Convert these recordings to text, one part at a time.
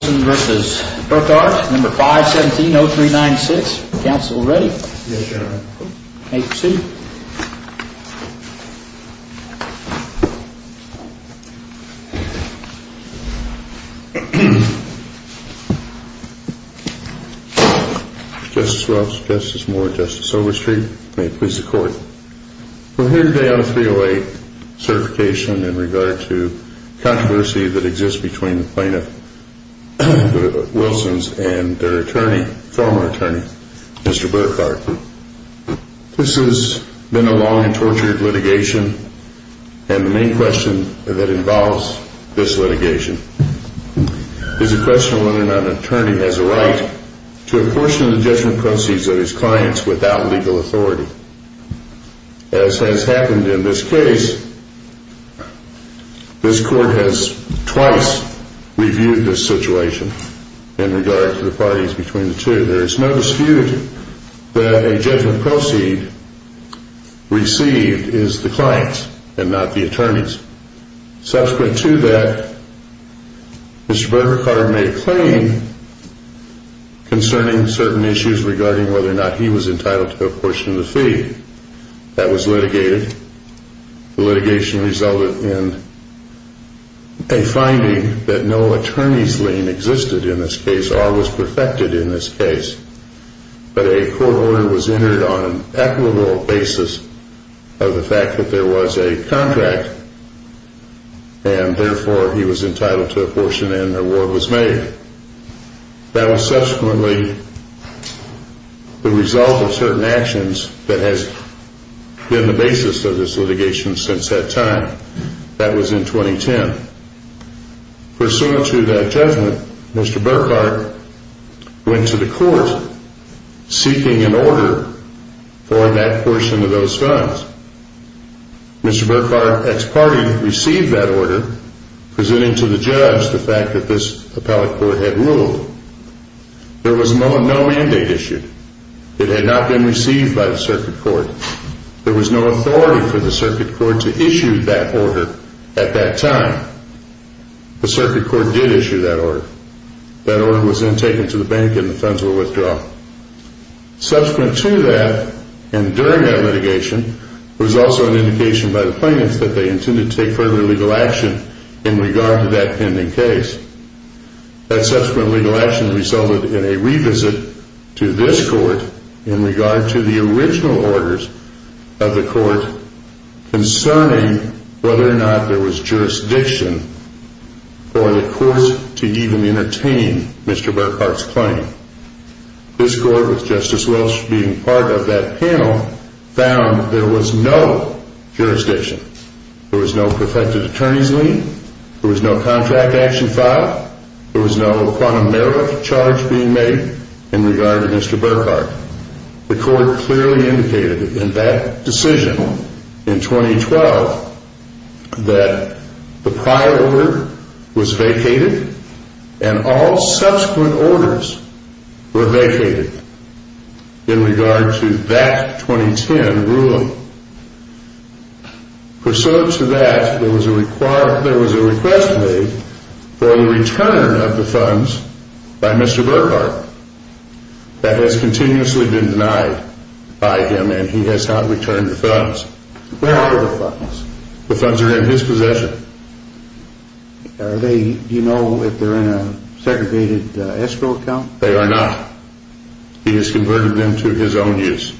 v. Burkart, No. 5-17-0396. Counsel ready? Yes, Your Honor. May it proceed? Justice Welch, Justice Moore, Justice Overstreet, may it please the Court. We're here today on a 308 certification in regard to the controversy that exists between the plaintiff, the Wilsons, and their attorney, former attorney, Mr. Burkart. This has been a long and tortured litigation, and the main question that involves this litigation is the question of whether or not an attorney has a right to a portion of the judgment proceeds of his clients without legal authority. As has happened in this case, this Court has twice reviewed this situation in regard to the parties between the two. There is no dispute that a judgment proceed received is the client's and not the attorney's. Subsequent to that, Mr. Burkart made a claim concerning certain issues regarding whether or not he was entitled to a portion of the fee. That was litigated. The litigation resulted in a finding that no attorney's lien existed in this case or was perfected in this case. But a court order was entered on an equitable basis of the fact that there was a contract, and therefore he was entitled to a portion and an award was made. That was subsequently the result of certain actions that has been the basis of this litigation since that time. That was in 2010. Pursuant to that judgment, Mr. Burkart went to the court seeking an order for that portion of those funds. Mr. Burkart, ex parte, received that order presenting to the judge the fact that this appellate court had ruled. There was no mandate issued. It had not been received by the circuit court. There was no authority for the circuit court to issue that order at that time. The circuit court did issue that order. That order was then taken to the bank and the funds were withdrawn. Subsequent to that, and during that litigation, there was also an indication by the plaintiffs that they intended to take further legal action in regard to that pending case. That subsequent legal action resulted in a revisit to this court in regard to the original orders of the court concerning whether or not there was jurisdiction for the courts to even entertain Mr. Burkart's claim. This court, with Justice Welch being part of that panel, found there was no jurisdiction. There was no perfected attorney's lien. There was no contract action filed. There was no quantum merit charge being made in regard to Mr. Burkart. The court clearly indicated in that decision in 2012 that the prior order was vacated and all subsequent orders were vacated in regard to that 2010 ruling. Pursuant to that, there was a request made for the return of the funds by Mr. Burkart that has continuously been denied by him and he has not returned the funds. Where are the funds? The funds are in his possession. Do you know if they're in a segregated escrow account? They are not. He has converted them to his own use.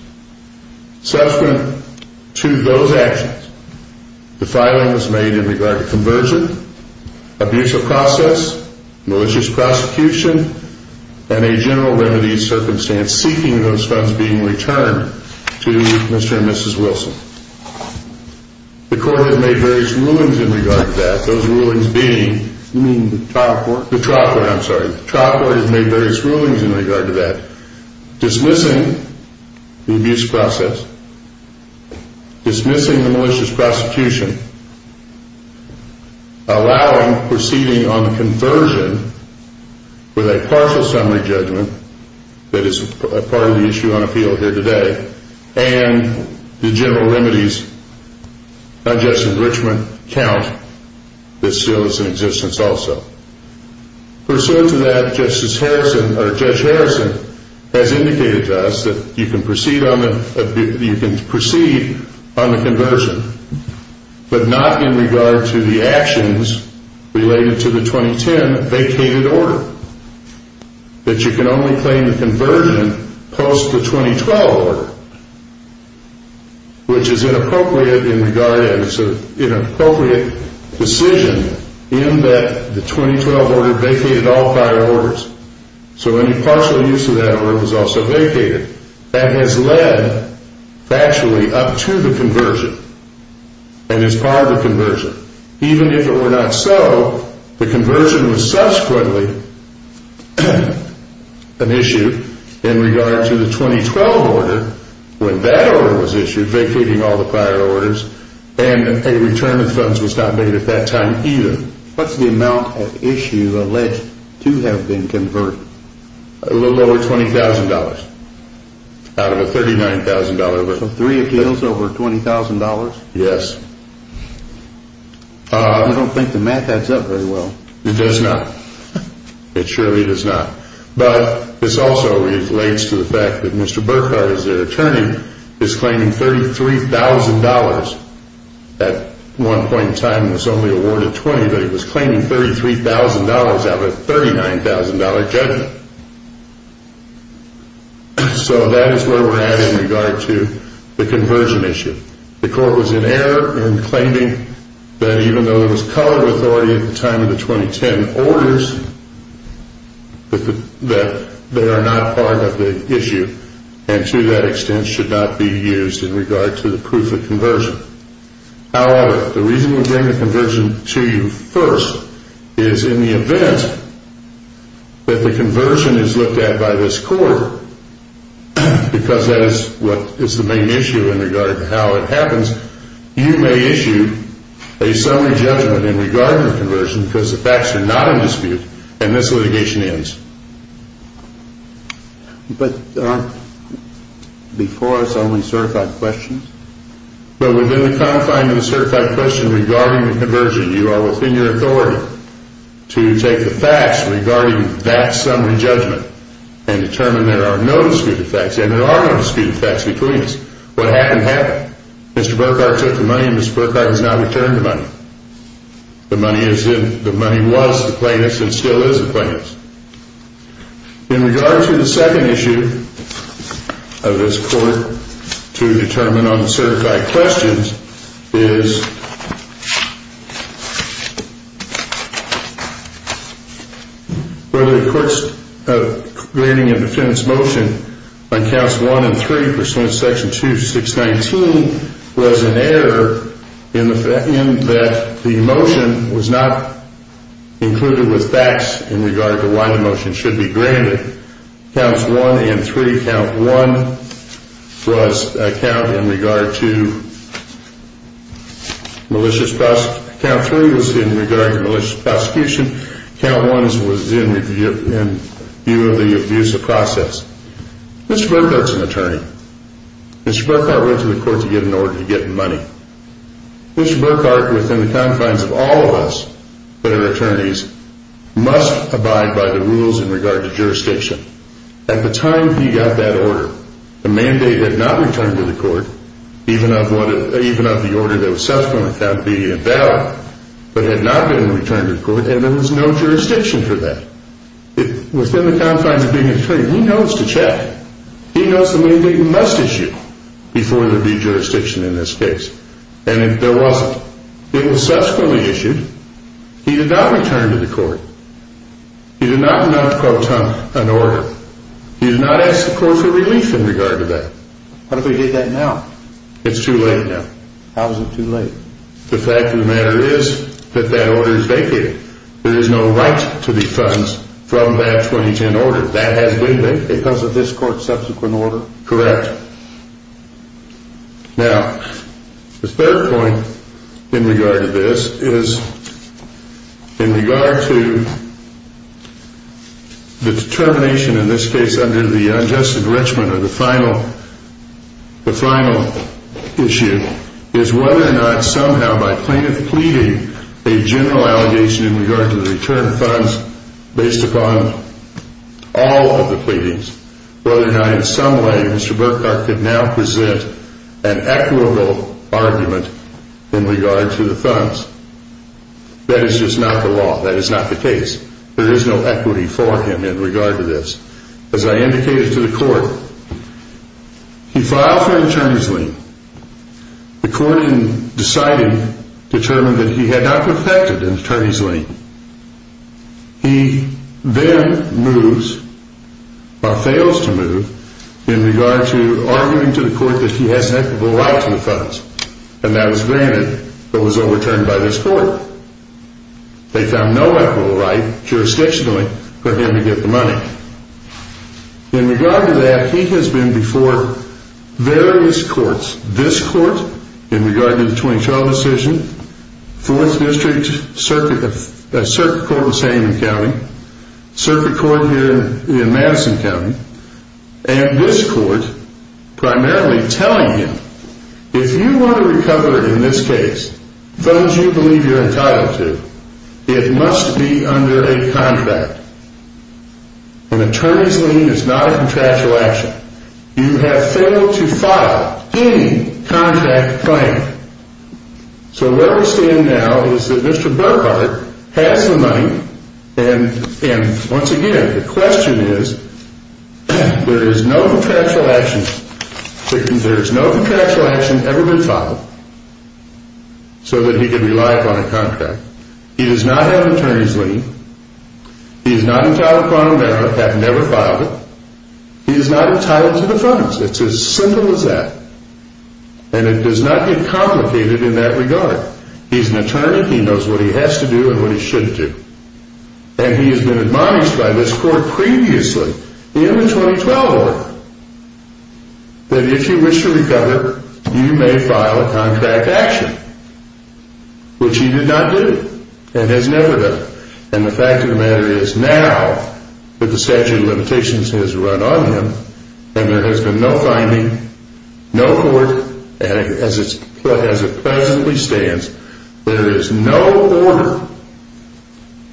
Subsequent to those actions, the filing was made in regard to conversion, abusive process, malicious prosecution, and a general remedies circumstance seeking those funds being returned to Mr. and Mrs. Wilson. The court has made various rulings in regard to that. Those rulings being? You mean the trot court? The trot court, I'm sorry. The trot court has made various rulings in regard to that. Dismissing the abuse process, dismissing the malicious prosecution, allowing proceeding on the conversion with a partial summary judgment that is part of the issue on appeal here today, and the general remedies, not just enrichment account, that still is in existence also. Pursuant to that, Judge Harrison has indicated to us that you can proceed on the conversion, but not in regard to the actions related to the 2010 vacated order. That you can only claim the conversion post the 2012 order, which is inappropriate in regard as an inappropriate decision in that the 2012 order vacated all prior orders, so any partial use of that order was also vacated. That has led factually up to the conversion, and is part of the conversion. Even if it were not so, the conversion was subsequently an issue in regard to the 2012 order, when that order was issued, vacating all the prior orders, and a return of funds was not made at that time either. What's the amount of issue alleged to have been converted? A little over $20,000 out of a $39,000. So three appeals over $20,000? Yes. I don't think the math adds up very well. It does not. It surely does not. But this also relates to the fact that Mr. Burkhardt, as their attorney, is claiming $33,000. At one point in time, this only awarded $20,000, but he was claiming $33,000 out of a $39,000 judgment. So that is where we're at in regard to the conversion issue. The court was in error in claiming that even though there was color authority at the time of the 2010 orders, that they are not part of the issue, and to that extent should not be used in regard to the proof of conversion. However, the reason we bring the conversion to you first is in the event that the conversion is looked at by this court, because that is what is the main issue in regard to how it happens, you may issue a summary judgment in regard to the conversion because the facts are not in dispute, and this litigation ends. But aren't before us only certified questions? But within the confine of the certified question regarding the conversion, you are within your authority to take the facts regarding that summary judgment and determine there are no dispute effects. And there are no dispute effects between us. What happened, happened. Mr. Burkhardt took the money and Mr. Burkhardt has not returned the money. The money was the plaintiff's and still is the plaintiff's. In regard to the second issue of this court to determine on the certified questions, is whether the court's granting a defense motion on counts one and three pursuant to section 2619 was an error in that the motion was not included with facts in regard to why the motion should be granted. Counts one and three, count one was a count in regard to malicious prosecution, count three was in regard to malicious prosecution, count one was in view of the abuse of process. Mr. Burkhardt is an attorney. Mr. Burkhardt went to the court to get an order to get money. Mr. Burkhardt, within the confines of all of us that are attorneys, must abide by the rules in regard to jurisdiction. At the time he got that order, the mandate had not returned to the court, even of the order that was subsequently found to be invalid, but had not been returned to the court and there was no jurisdiction for that. Within the confines of being an attorney, he knows to check. He knows the mandate must issue before there would be jurisdiction in this case, and if there wasn't, it was subsequently issued. He did not return to the court. He did not mount an order. He did not ask the court for relief in regard to that. What if we did that now? It's too late now. How is it too late? The fact of the matter is that that order is vacated. There is no right to defund from that 2010 order. That has been vacated. Because of this court's subsequent order? Correct. Now, the third point in regard to this is in regard to the determination in this case under the unjust enrichment of the final issue is whether or not somehow by plaintiff pleading a general allegation in regard to the return of funds based upon all of the pleadings, whether or not in some way Mr. Burkhart could now present an equitable argument in regard to the funds. That is just not the law. That is not the case. There is no equity for him in regard to this. As I indicated to the court, he filed for an attorney's lien. The court, in deciding, determined that he had not perfected an attorney's lien. He then moves, or fails to move, in regard to arguing to the court that he has an equitable right to the funds. And that was granted, but was overturned by this court. They found no equitable right, jurisdictionally, for him to get the money. In regard to that, he has been before various courts. This court, in regard to the 2012 decision, Fourth District Circuit Court of Sandman County, Circuit Court here in Madison County, and this court primarily telling him, If you want to recover, in this case, funds you believe you are entitled to, it must be under a contract. An attorney's lien is not a contractual action. You have failed to file any contract claim. So where we stand now is that Mr. Burkhart has the money, and once again, the question is, There is no contractual action ever been filed, so that he can rely upon a contract. He does not have an attorney's lien. He is not entitled to a bond, and has never filed it. He is not entitled to the funds. It is as simple as that. And it does not get complicated in that regard. He is an attorney. He knows what he has to do, and what he should do. And he has been admonished by this court previously, in the 2012 order, that if you wish to recover, you may file a contract action. Which he did not do, and has never done. And the fact of the matter is, now that the statute of limitations has run on him, and there has been no finding, no court, as it presently stands, there is no order,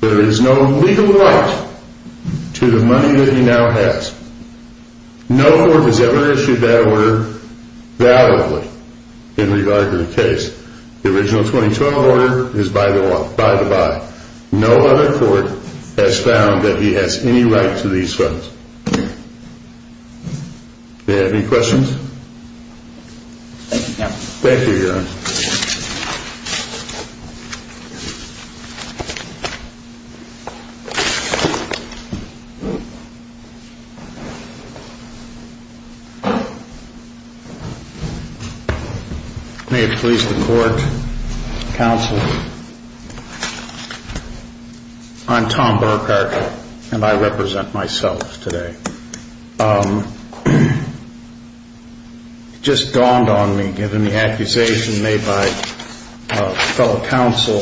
there is no legal right to the money that he now has. No court has ever issued that order validly, in regard to the case. The original 2012 order is by the by. No other court has found that he has any right to these funds. Do you have any questions? Thank you, Your Honor. May it please the court, counsel, I'm Tom Burkhart, and I represent myself today. It just dawned on me, given the accusation made by fellow counsel,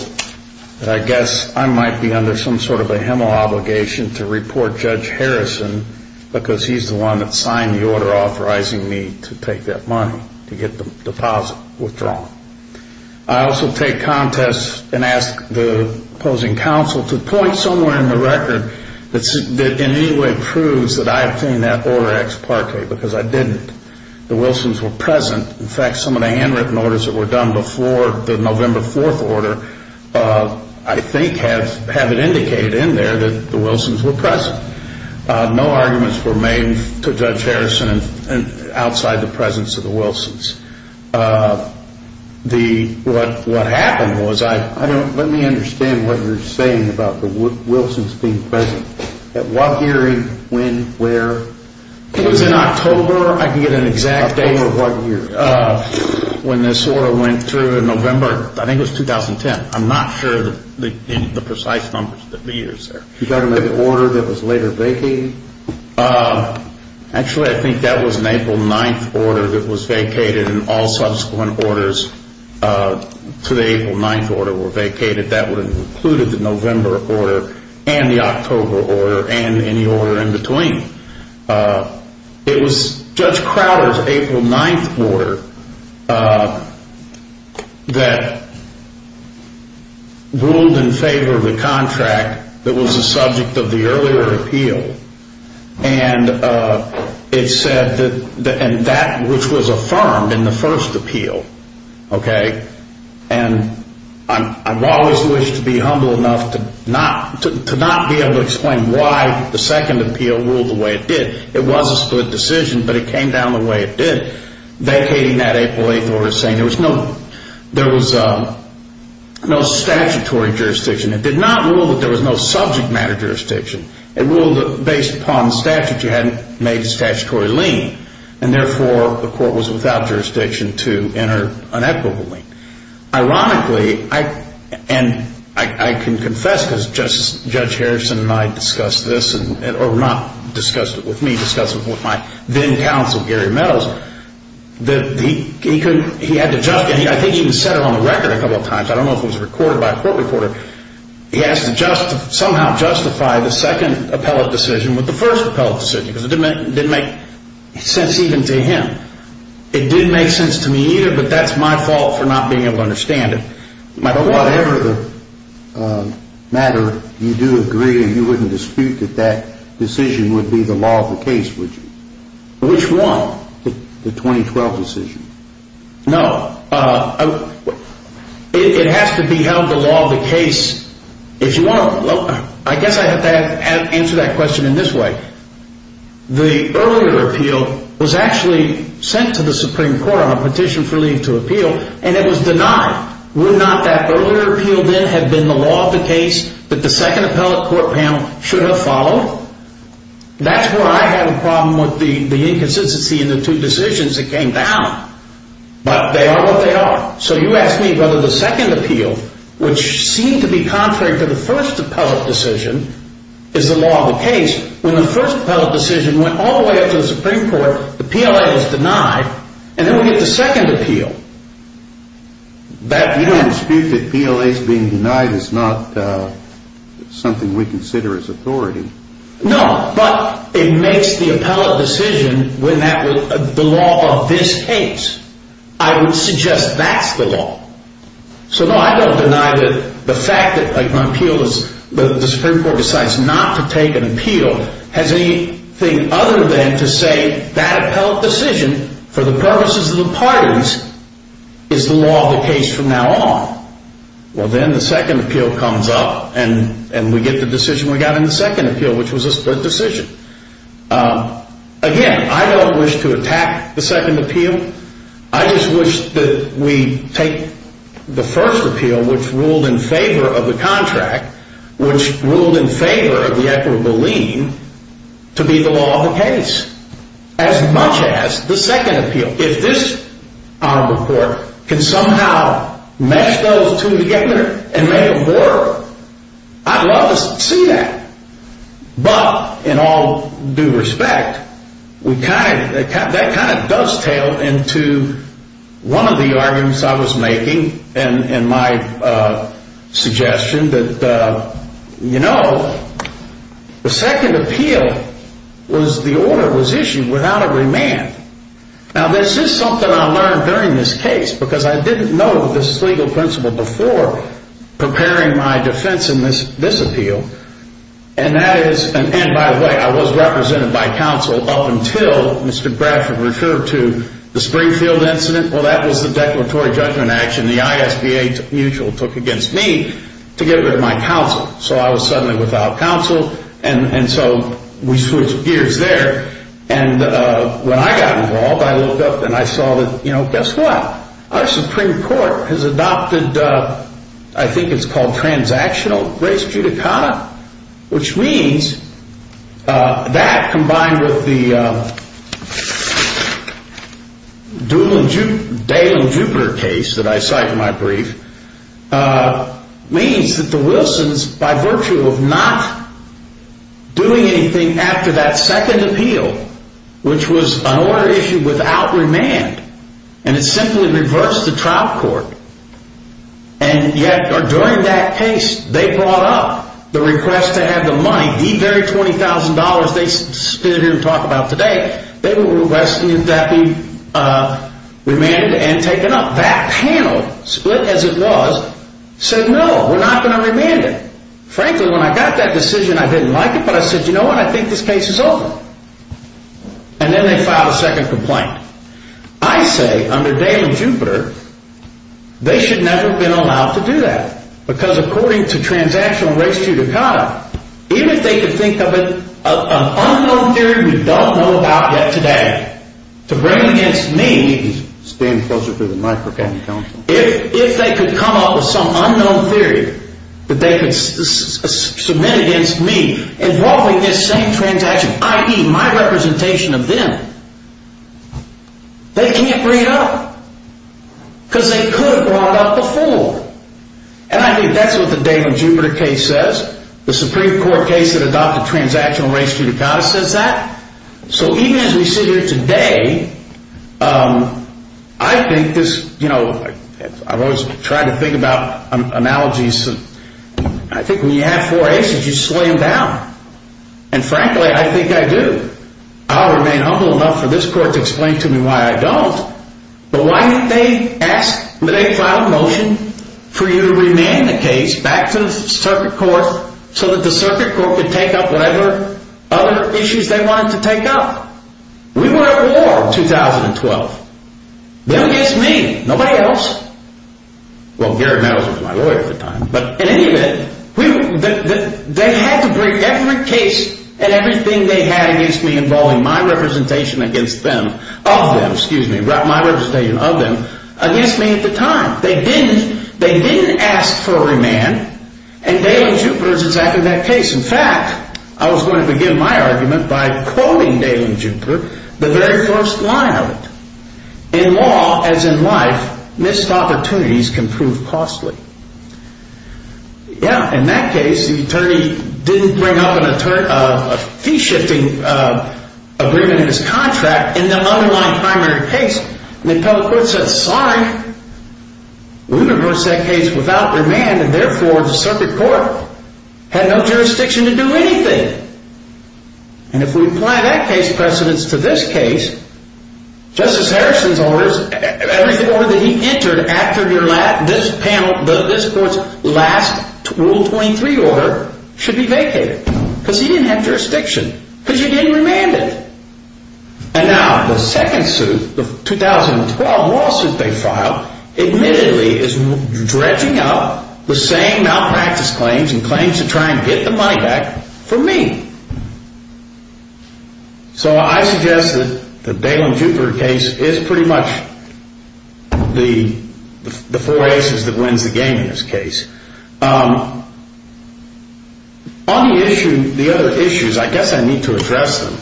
that I guess I might be under some sort of a hemo-obligation to report Judge Harrison, because he's the one that signed the order authorizing me to take that money, to get the deposit withdrawn. I also take contest and ask the opposing counsel to point somewhere in the record that in any way proves that I obtained that order ex parte, because I didn't. The Wilsons were present. In fact, some of the handwritten orders that were done before the November 4th order, I think have it indicated in there that the Wilsons were present. No arguments were made to Judge Harrison outside the presence of the Wilsons. What happened was, let me understand what you're saying about the Wilsons being present. At what year, when, where? It was in October. I can get an exact date. October of what year? When this order went through in November, I think it was 2010. I'm not sure of the precise numbers of the years there. You're talking about the order that was later vacated? Actually, I think that was an April 9th order that was vacated and all subsequent orders to the April 9th order were vacated. That would have included the November order and the October order and any order in between. It was Judge Crowder's April 9th order that ruled in favor of the contract that was the subject of the earlier appeal and that which was affirmed in the first appeal. I've always wished to be humble enough to not be able to explain why the second appeal ruled the way it did. It was a split decision, but it came down the way it did. Vacating that April 8th order saying there was no statutory jurisdiction. It did not rule that there was no subject matter jurisdiction. It ruled that based upon statute you hadn't made a statutory lien and therefore the court was without jurisdiction to enter an equitable lien. Ironically, and I can confess because Judge Harrison and I discussed this, or not discussed it with me, discussed it with my then-counsel Gary Meadows, that he couldn't, he had to, I think he even said it on the record a couple of times, I don't know if it was recorded by a court reporter, he has to somehow justify the second appellate decision with the first appellate decision because it didn't make sense even to him. It didn't make sense to me either, but that's my fault for not being able to understand it. But whatever the matter, you do agree and you wouldn't dispute that that decision would be the law of the case, would you? Which one? The 2012 decision. No. It has to be held the law of the case. I guess I have to answer that question in this way. The earlier appeal was actually sent to the Supreme Court on a petition for leave to appeal and it was denied. Would not that earlier appeal then have been the law of the case that the second appellate court panel should have followed? No. That's where I have a problem with the inconsistency in the two decisions that came down. But they are what they are. So you ask me whether the second appeal, which seemed to be contrary to the first appellate decision, is the law of the case. When the first appellate decision went all the way up to the Supreme Court, the PLA was denied, and then we get the second appeal. You don't dispute that PLA's being denied is not something we consider as authority. No, but it makes the appellate decision the law of this case. I would suggest that's the law. So no, I don't deny that the fact that the Supreme Court decides not to take an appeal has anything other than to say that appellate decision, for the purposes of the parties, is the law of the case from now on. Well, then the second appeal comes up and we get the decision we got in the second appeal, which was a split decision. Again, I don't wish to attack the second appeal. I just wish that we take the first appeal, which ruled in favor of the contract, which ruled in favor of the equitable lien, to be the law of the case, as much as the second appeal. If this honorable court can somehow mesh those two together and make a border, I'd love to see that. But, in all due respect, that kind of does tail into one of the arguments I was making in my suggestion that, you know, the second appeal was the order was issued without a remand. Now, this is something I learned during this case, because I didn't know this legal principle before preparing my defense in this appeal. And, by the way, I was represented by counsel up until Mr. Bradford referred to the Springfield incident. Well, that was the declaratory judgment action the ISBA mutual took against me to get rid of my counsel. So I was suddenly without counsel. And so we switched gears there. And when I got involved, I looked up and I saw that, you know, guess what? Our Supreme Court has adopted, I think it's called transactional res judicata, which means that, combined with the Dale and Jupiter case that I cite in my brief, means that the Wilsons, by virtue of not doing anything after that second appeal, which was an order issued without remand, and it simply reversed the trial court, and yet, or during that case, they brought up the request to have the money, the very $20,000 they stood here and talked about today, they were requesting that be remanded and taken up. That panel, split as it was, said, no, we're not going to remand it. Frankly, when I got that decision, I didn't like it, but I said, you know what? I think this case is over. And then they filed a second complaint. I say, under Dale and Jupiter, they should never have been allowed to do that, because according to transactional res judicata, even if they could think of an unknown theory we don't know about yet today, to bring against me, if they could come up with some unknown theory that they could submit against me involving this same transaction, i.e., my representation of them, they can't bring it up, because they could have brought it up before. And I think that's what the Dale and Jupiter case says. The Supreme Court case that adopted transactional res judicata says that. So even as we sit here today, I think this, you know, I've always tried to think about analogies. I think when you have four aces, you slay them down. And frankly, I think I do. I'll remain humble enough for this court to explain to me why I don't. But why didn't they ask, they filed a motion for you to remand the case back to the circuit court so that the circuit court could take up whatever other issues they wanted to take up? We were at war in 2012. Them against me, nobody else. Well, Gary Meadows was my lawyer at the time. But in any event, they had to bring every case and everything they had against me involving my representation of them against me at the time. They didn't ask for a remand, and Dale and Jupiter is exactly that case. In fact, I was going to begin my argument by quoting Dale and Jupiter, the very first line of it. In law, as in life, missed opportunities can prove costly. Yeah, in that case, the attorney didn't bring up a fee-shifting agreement in his contract in the underlying primary case. And the appellate court said, sorry, we reversed that case without remand, and therefore the circuit court had no jurisdiction to do anything. And if we apply that case precedence to this case, Justice Harrison's orders, every order that he entered after this panel, this court's last Rule 23 order, should be vacated. Because he didn't have jurisdiction. Because you didn't remand it. And now the second suit, the 2012 lawsuit they filed, admittedly is dredging up the same malpractice claims and claims to try and get the money back from me. So I suggest that the Dale and Jupiter case is pretty much the four aces that wins the game in this case. On the other issues, I guess I need to address them,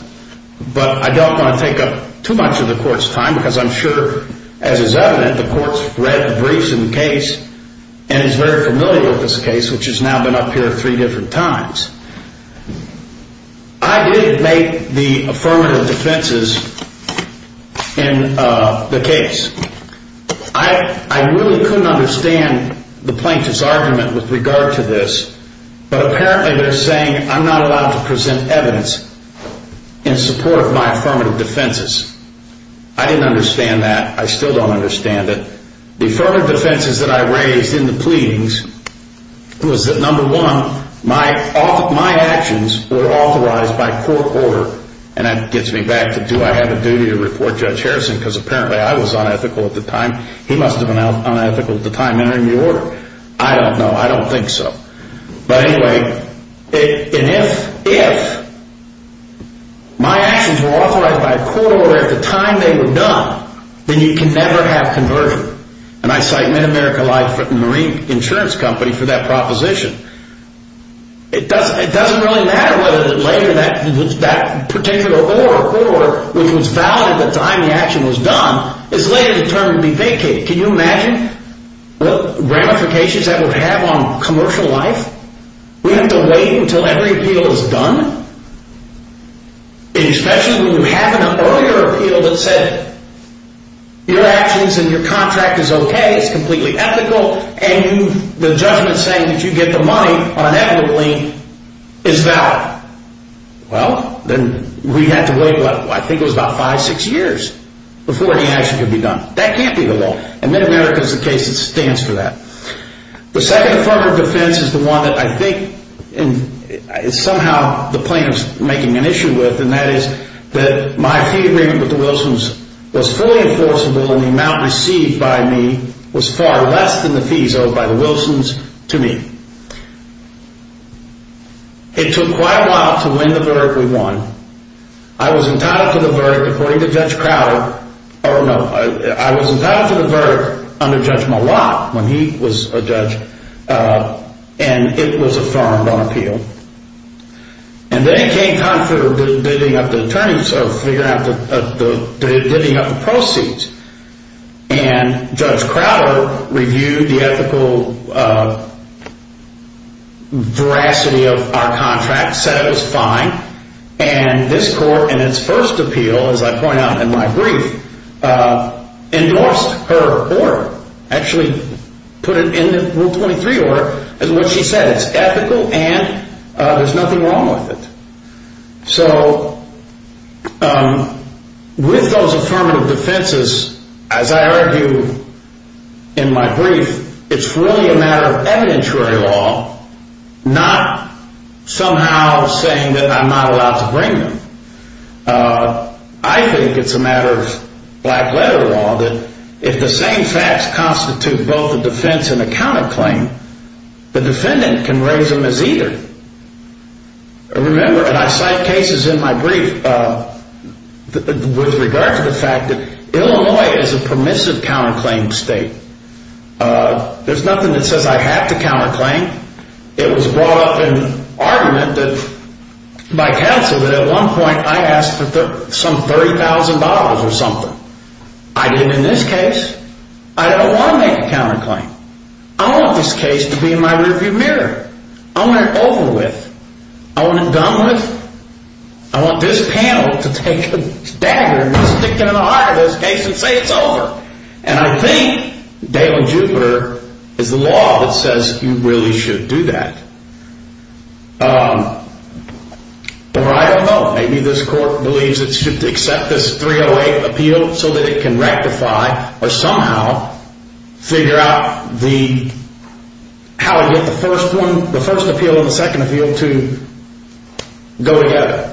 but I don't want to take up too much of the Court's time, because I'm sure, as is evident, the Court's read the briefs in the case and is very familiar with this case, which has now been up here three different times. I did make the affirmative defenses in the case. I really couldn't understand the plaintiff's argument with regard to this, but apparently they're saying I'm not allowed to present evidence in support of my affirmative defenses. I didn't understand that. I still don't understand it. The affirmative defenses that I raised in the pleadings was that, number one, my actions were authorized by court order. And that gets me back to do I have a duty to report Judge Harrison, because apparently I was unethical at the time. He must have been unethical at the time entering the order. I don't know. I don't think so. But anyway, if my actions were authorized by court order at the time they were done, then you can never have conversion. And I cite MidAmerica Life Marine Insurance Company for that proposition. It doesn't really matter whether later that particular order, which was valid at the time the action was done, is later determined to be vacated. Can you imagine what ramifications that would have on commercial life? We have to wait until every appeal is done? And especially when you have an earlier appeal that said your actions and your contract is okay, it's completely ethical, and the judgment saying that you get the money unethically is valid. Well, then we'd have to wait, what, I think it was about five, six years before any action could be done. That can't be the law. And MidAmerica is the case that stands for that. The second affirmative defense is the one that I think is somehow the plaintiff's making an issue with, and that is that my fee agreement with the Wilsons was fully enforceable, and the amount received by me was far less than the fees owed by the Wilsons to me. It took quite a while to win the verdict we won. I was entitled to the verdict according to Judge Crowder, or no, I was entitled to the verdict under Judge Malott when he was a judge, and it was affirmed on appeal. And then it came time for the bidding of the attorneys, so figuring out the bidding of the proceeds, and Judge Crowder reviewed the ethical veracity of our contract, said it was fine, and this court in its first appeal, as I point out in my brief, endorsed her order, actually put it into Rule 23 order, and what she said, it's ethical and there's nothing wrong with it. So with those affirmative defenses, as I argue in my brief, it's really a matter of evidentiary law, not somehow saying that I'm not allowed to bring them. I think it's a matter of black-letter law that if the same facts constitute both a defense and a counterclaim, the defendant can raise them as either. Remember, and I cite cases in my brief with regard to the fact that Illinois is a permissive counterclaim state. There's nothing that says I have to counterclaim. It was brought up in argument by counsel that at one point I asked for some $30,000 or something. I didn't in this case. I don't want to make a counterclaim. I want this case to be in my review mirror. I want it over with. I want it done with. I want this panel to take a dagger and stick it in the eye of this case and say it's over. And I think Dale and Jupiter is the law that says you really should do that. The right of vote. Maybe this court believes it should accept this 308 appeal so that it can rectify or somehow figure out how to get the first appeal and the second appeal to go together.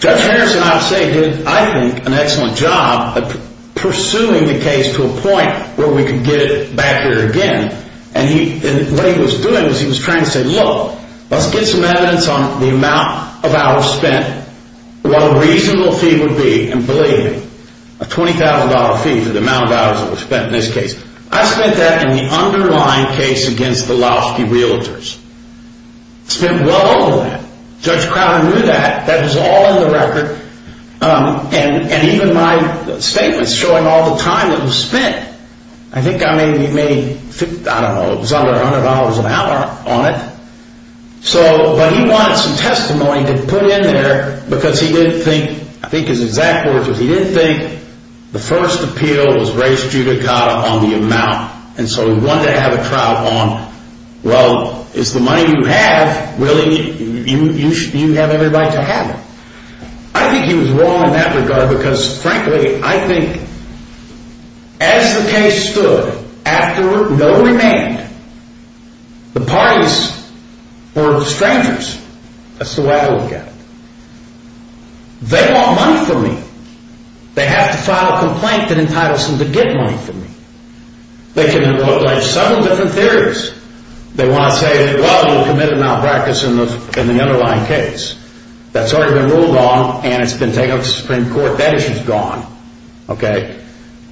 Judge Henderson, I would say, did, I think, an excellent job of pursuing the case to a point where we could get it back here again. And what he was doing was he was trying to say, look, let's get some evidence on the amount of hours spent, what a reasonable fee would be, and believe me, a $20,000 fee for the amount of hours that was spent in this case. I spent that in the underlying case against the Lowski Realtors. I spent well over that. Judge Crowder knew that. That was all in the record. And even my statements showing all the time that was spent, I think I made, I don't know, it was under $100 an hour on it. So, but he wanted some testimony to put in there because he didn't think, I think his exact words were, he didn't think the first appeal was raised judicata on the amount. And so he wanted to have a trial on, well, it's the money you have, Willie, you have every right to have it. I think he was wrong in that regard because, frankly, I think as the case stood, after no remand, the parties were strangers. That's the way I look at it. They want money from me. They have to file a complaint that entitles them to get money from me. They can invoke like seven different theories. They want to say, well, you'll commit a malpractice in the underlying case. That's already been ruled on and it's been taken up to the Supreme Court. That issue's gone.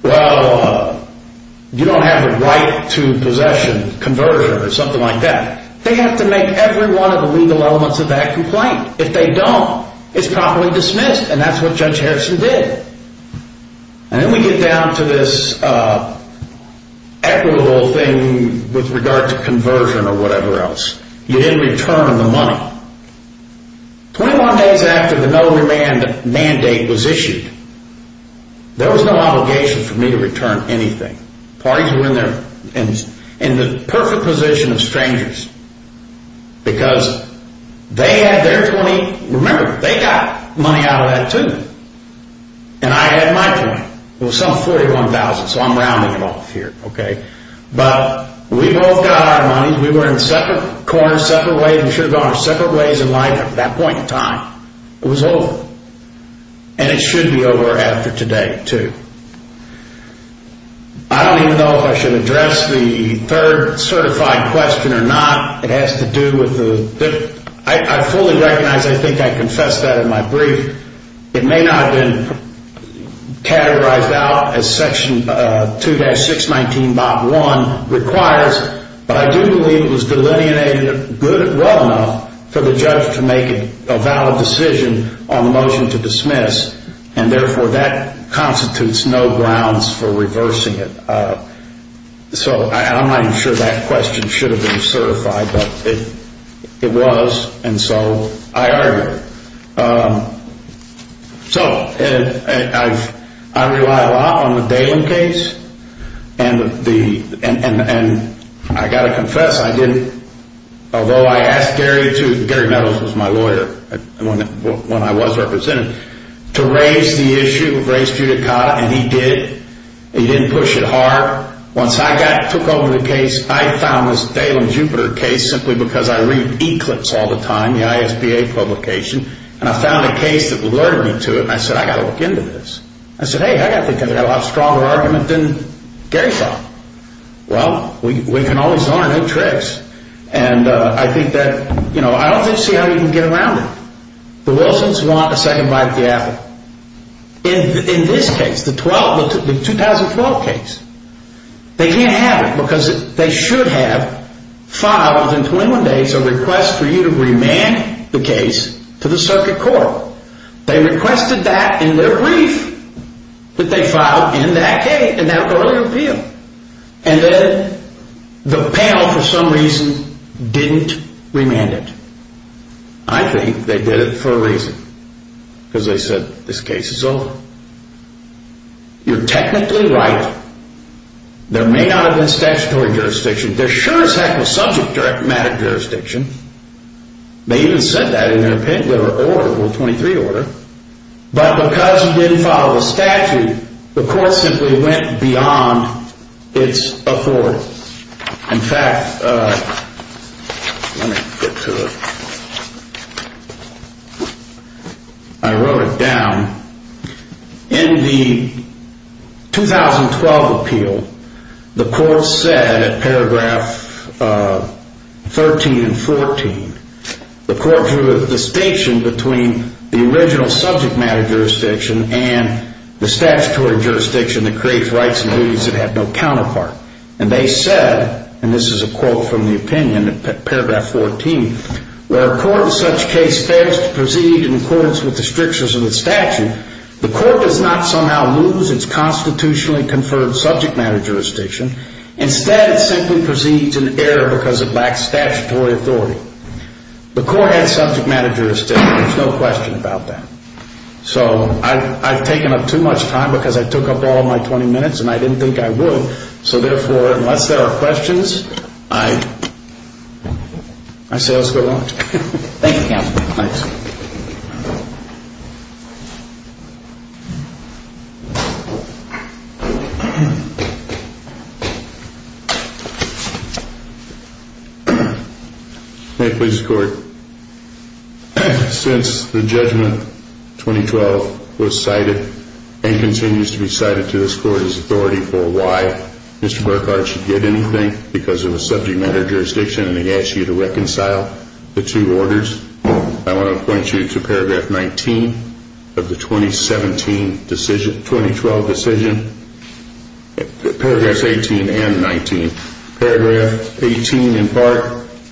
Well, you don't have the right to possession, conversion, or something like that. They have to make every one of the legal elements of that complaint. If they don't, it's properly dismissed, and that's what Judge Harrison did. And then we get down to this equitable thing with regard to conversion or whatever else. You didn't return the money. Twenty-one days after the no remand mandate was issued, there was no obligation for me to return anything. Parties were in the perfect position of strangers because they had their 20. Remember, they got money out of that, too. And I had my 20. It was some 41,000, so I'm rounding it off here. But we both got our money. We were in separate corners, separate ways. We should have gone our separate ways in life at that point in time. It was over. And it should be over after today, too. I don't even know if I should address the third certified question or not. It has to do with the – I fully recognize, I think I confessed that in my brief. It may not have been categorized out as Section 2-619.1 requires, but I do believe it was delineated well enough for the judge to make a valid decision on the motion to dismiss, and therefore that constitutes no grounds for reversing it. So I'm not even sure that question should have been certified, but it was, and so I argued it. So I rely a lot on the Dahlin case, and I've got to confess I didn't – although I asked Gary to – Gary Meadows was my lawyer when I was represented – to raise the issue of race judicata, and he did. He didn't push it hard. Once I took over the case, I found this Dahlin-Jupiter case simply because I read Eclipse all the time, the ISBA publication, and I found a case that alerted me to it, and I said, I've got to look into this. I said, hey, I think I've got a lot stronger argument than Gary thought. Well, we can always learn new tricks, and I think that – you know, I don't think you see how you can get around it. The Wilsons want a second bite of the apple. In this case, the 2012 case, they can't have it because they should have filed in 21 days a request for you to remand the case to the circuit court. They requested that in their brief, but they filed in that case, in that early appeal, and then the panel, for some reason, didn't remand it. I think they did it for a reason, because they said, this case is over. You're technically right. There may not have been statutory jurisdiction. There sure as heck was subject matter jurisdiction. They even said that in their order, Rule 23 order. But because you didn't follow the statute, the court simply went beyond its authority. In fact, let me get to it. I wrote it down. In the 2012 appeal, the court said at paragraph 13 and 14, the court drew a distinction between the original subject matter jurisdiction and the statutory jurisdiction that creates rights and duties that have no counterpart. And they said, and this is a quote from the opinion at paragraph 14, where a court in such case fails to proceed in accordance with the strictures of the statute, the court does not somehow lose its constitutionally conferred subject matter jurisdiction. Instead, it simply proceeds in error because it lacks statutory authority. The court has subject matter jurisdiction. There's no question about that. So I've taken up too much time, because I took up all of my 20 minutes, and I didn't think I would. So therefore, unless there are questions, I say let's go on. Thank you, counsel. Thanks. May it please the court. Since the judgment 2012 was cited and continues to be cited to this court as authority for why Mr. Burkhart should get anything because of a subject matter jurisdiction, and he asked you to reconcile the two orders, I want to point you to paragraph 19 of the 2017 decision, 2012 decision, paragraphs 18 and 19. Paragraph 18, in part,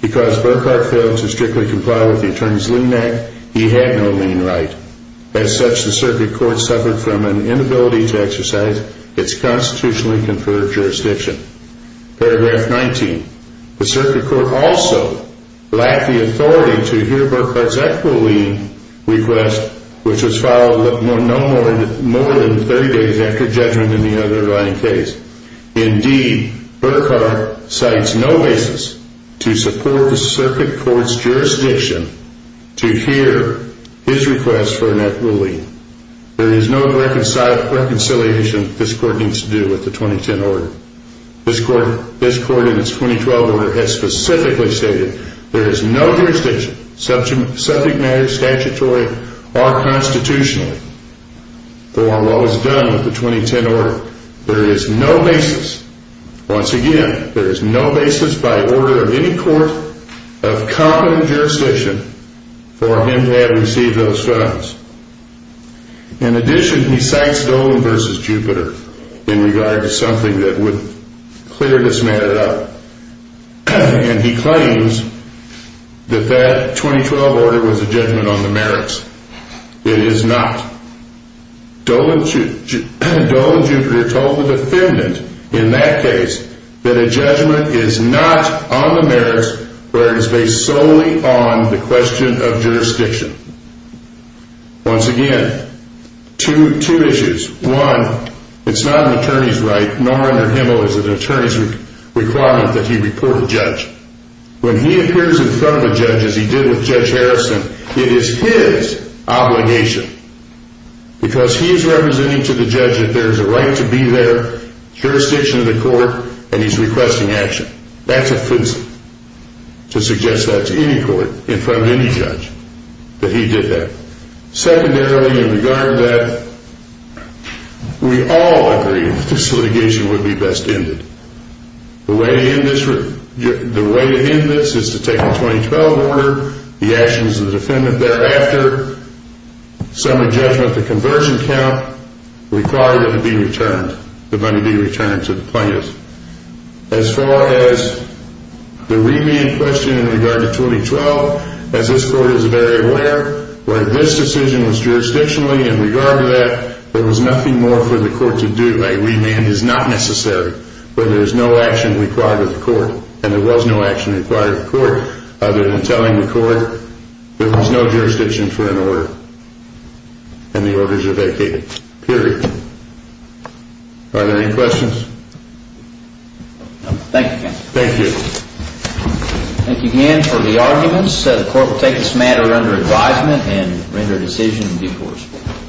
because Burkhart failed to strictly comply with the Attorney's Lien Act, he had no lien right. As such, the circuit court suffered from an inability to exercise its constitutionally conferred jurisdiction. Paragraph 19, the circuit court also lacked the authority to hear Burkhart's equitable lien request, which was filed no more than 30 days after judgment in the underlying case. Indeed, Burkhart cites no basis to support the circuit court's jurisdiction to hear his request for a net lien. There is no reconciliation this court needs to do with the 2010 order. This court, in its 2012 order, has specifically stated there is no jurisdiction, subject matter, statutory, or constitutional. Though our law is done with the 2010 order, there is no basis, once again, there is no basis by order of any court of common jurisdiction for him to have received those funds. In addition, he cites Dolan v. Jupiter in regard to something that would clear this matter up, and he claims that that 2012 order was a judgment on the merits. It is not. Dolan v. Jupiter told the defendant in that case that a judgment is not on the merits, where it is based solely on the question of jurisdiction. Once again, two issues. One, it's not an attorney's right, nor under Himmel is it an attorney's requirement that he report a judge. When he appears in front of a judge, as he did with Judge Harrison, it is his obligation, because he is representing to the judge that there is a right to be there, jurisdiction of the court, and he's requesting action. That's offensive to suggest that to any court, in front of any judge, that he did that. Secondarily, in regard to that, we all agree that this litigation would be best ended. The way to end this is to take the 2012 order, the actions of the defendant thereafter, sum of judgment, the conversion count, require that it be returned, the money be returned to the plaintiffs. As far as the remand question in regard to 2012, as this court is very aware, where this decision was jurisdictionally in regard to that, there was nothing more for the court to do. A remand is not necessary when there is no action required of the court, and there was no action required of the court other than telling the court there was no jurisdiction for an order, and the orders are vacated, period. Are there any questions? Thank you, counsel. Thank you. Thank you again for the arguments. The court will take this matter under advisement and render a decision in due course.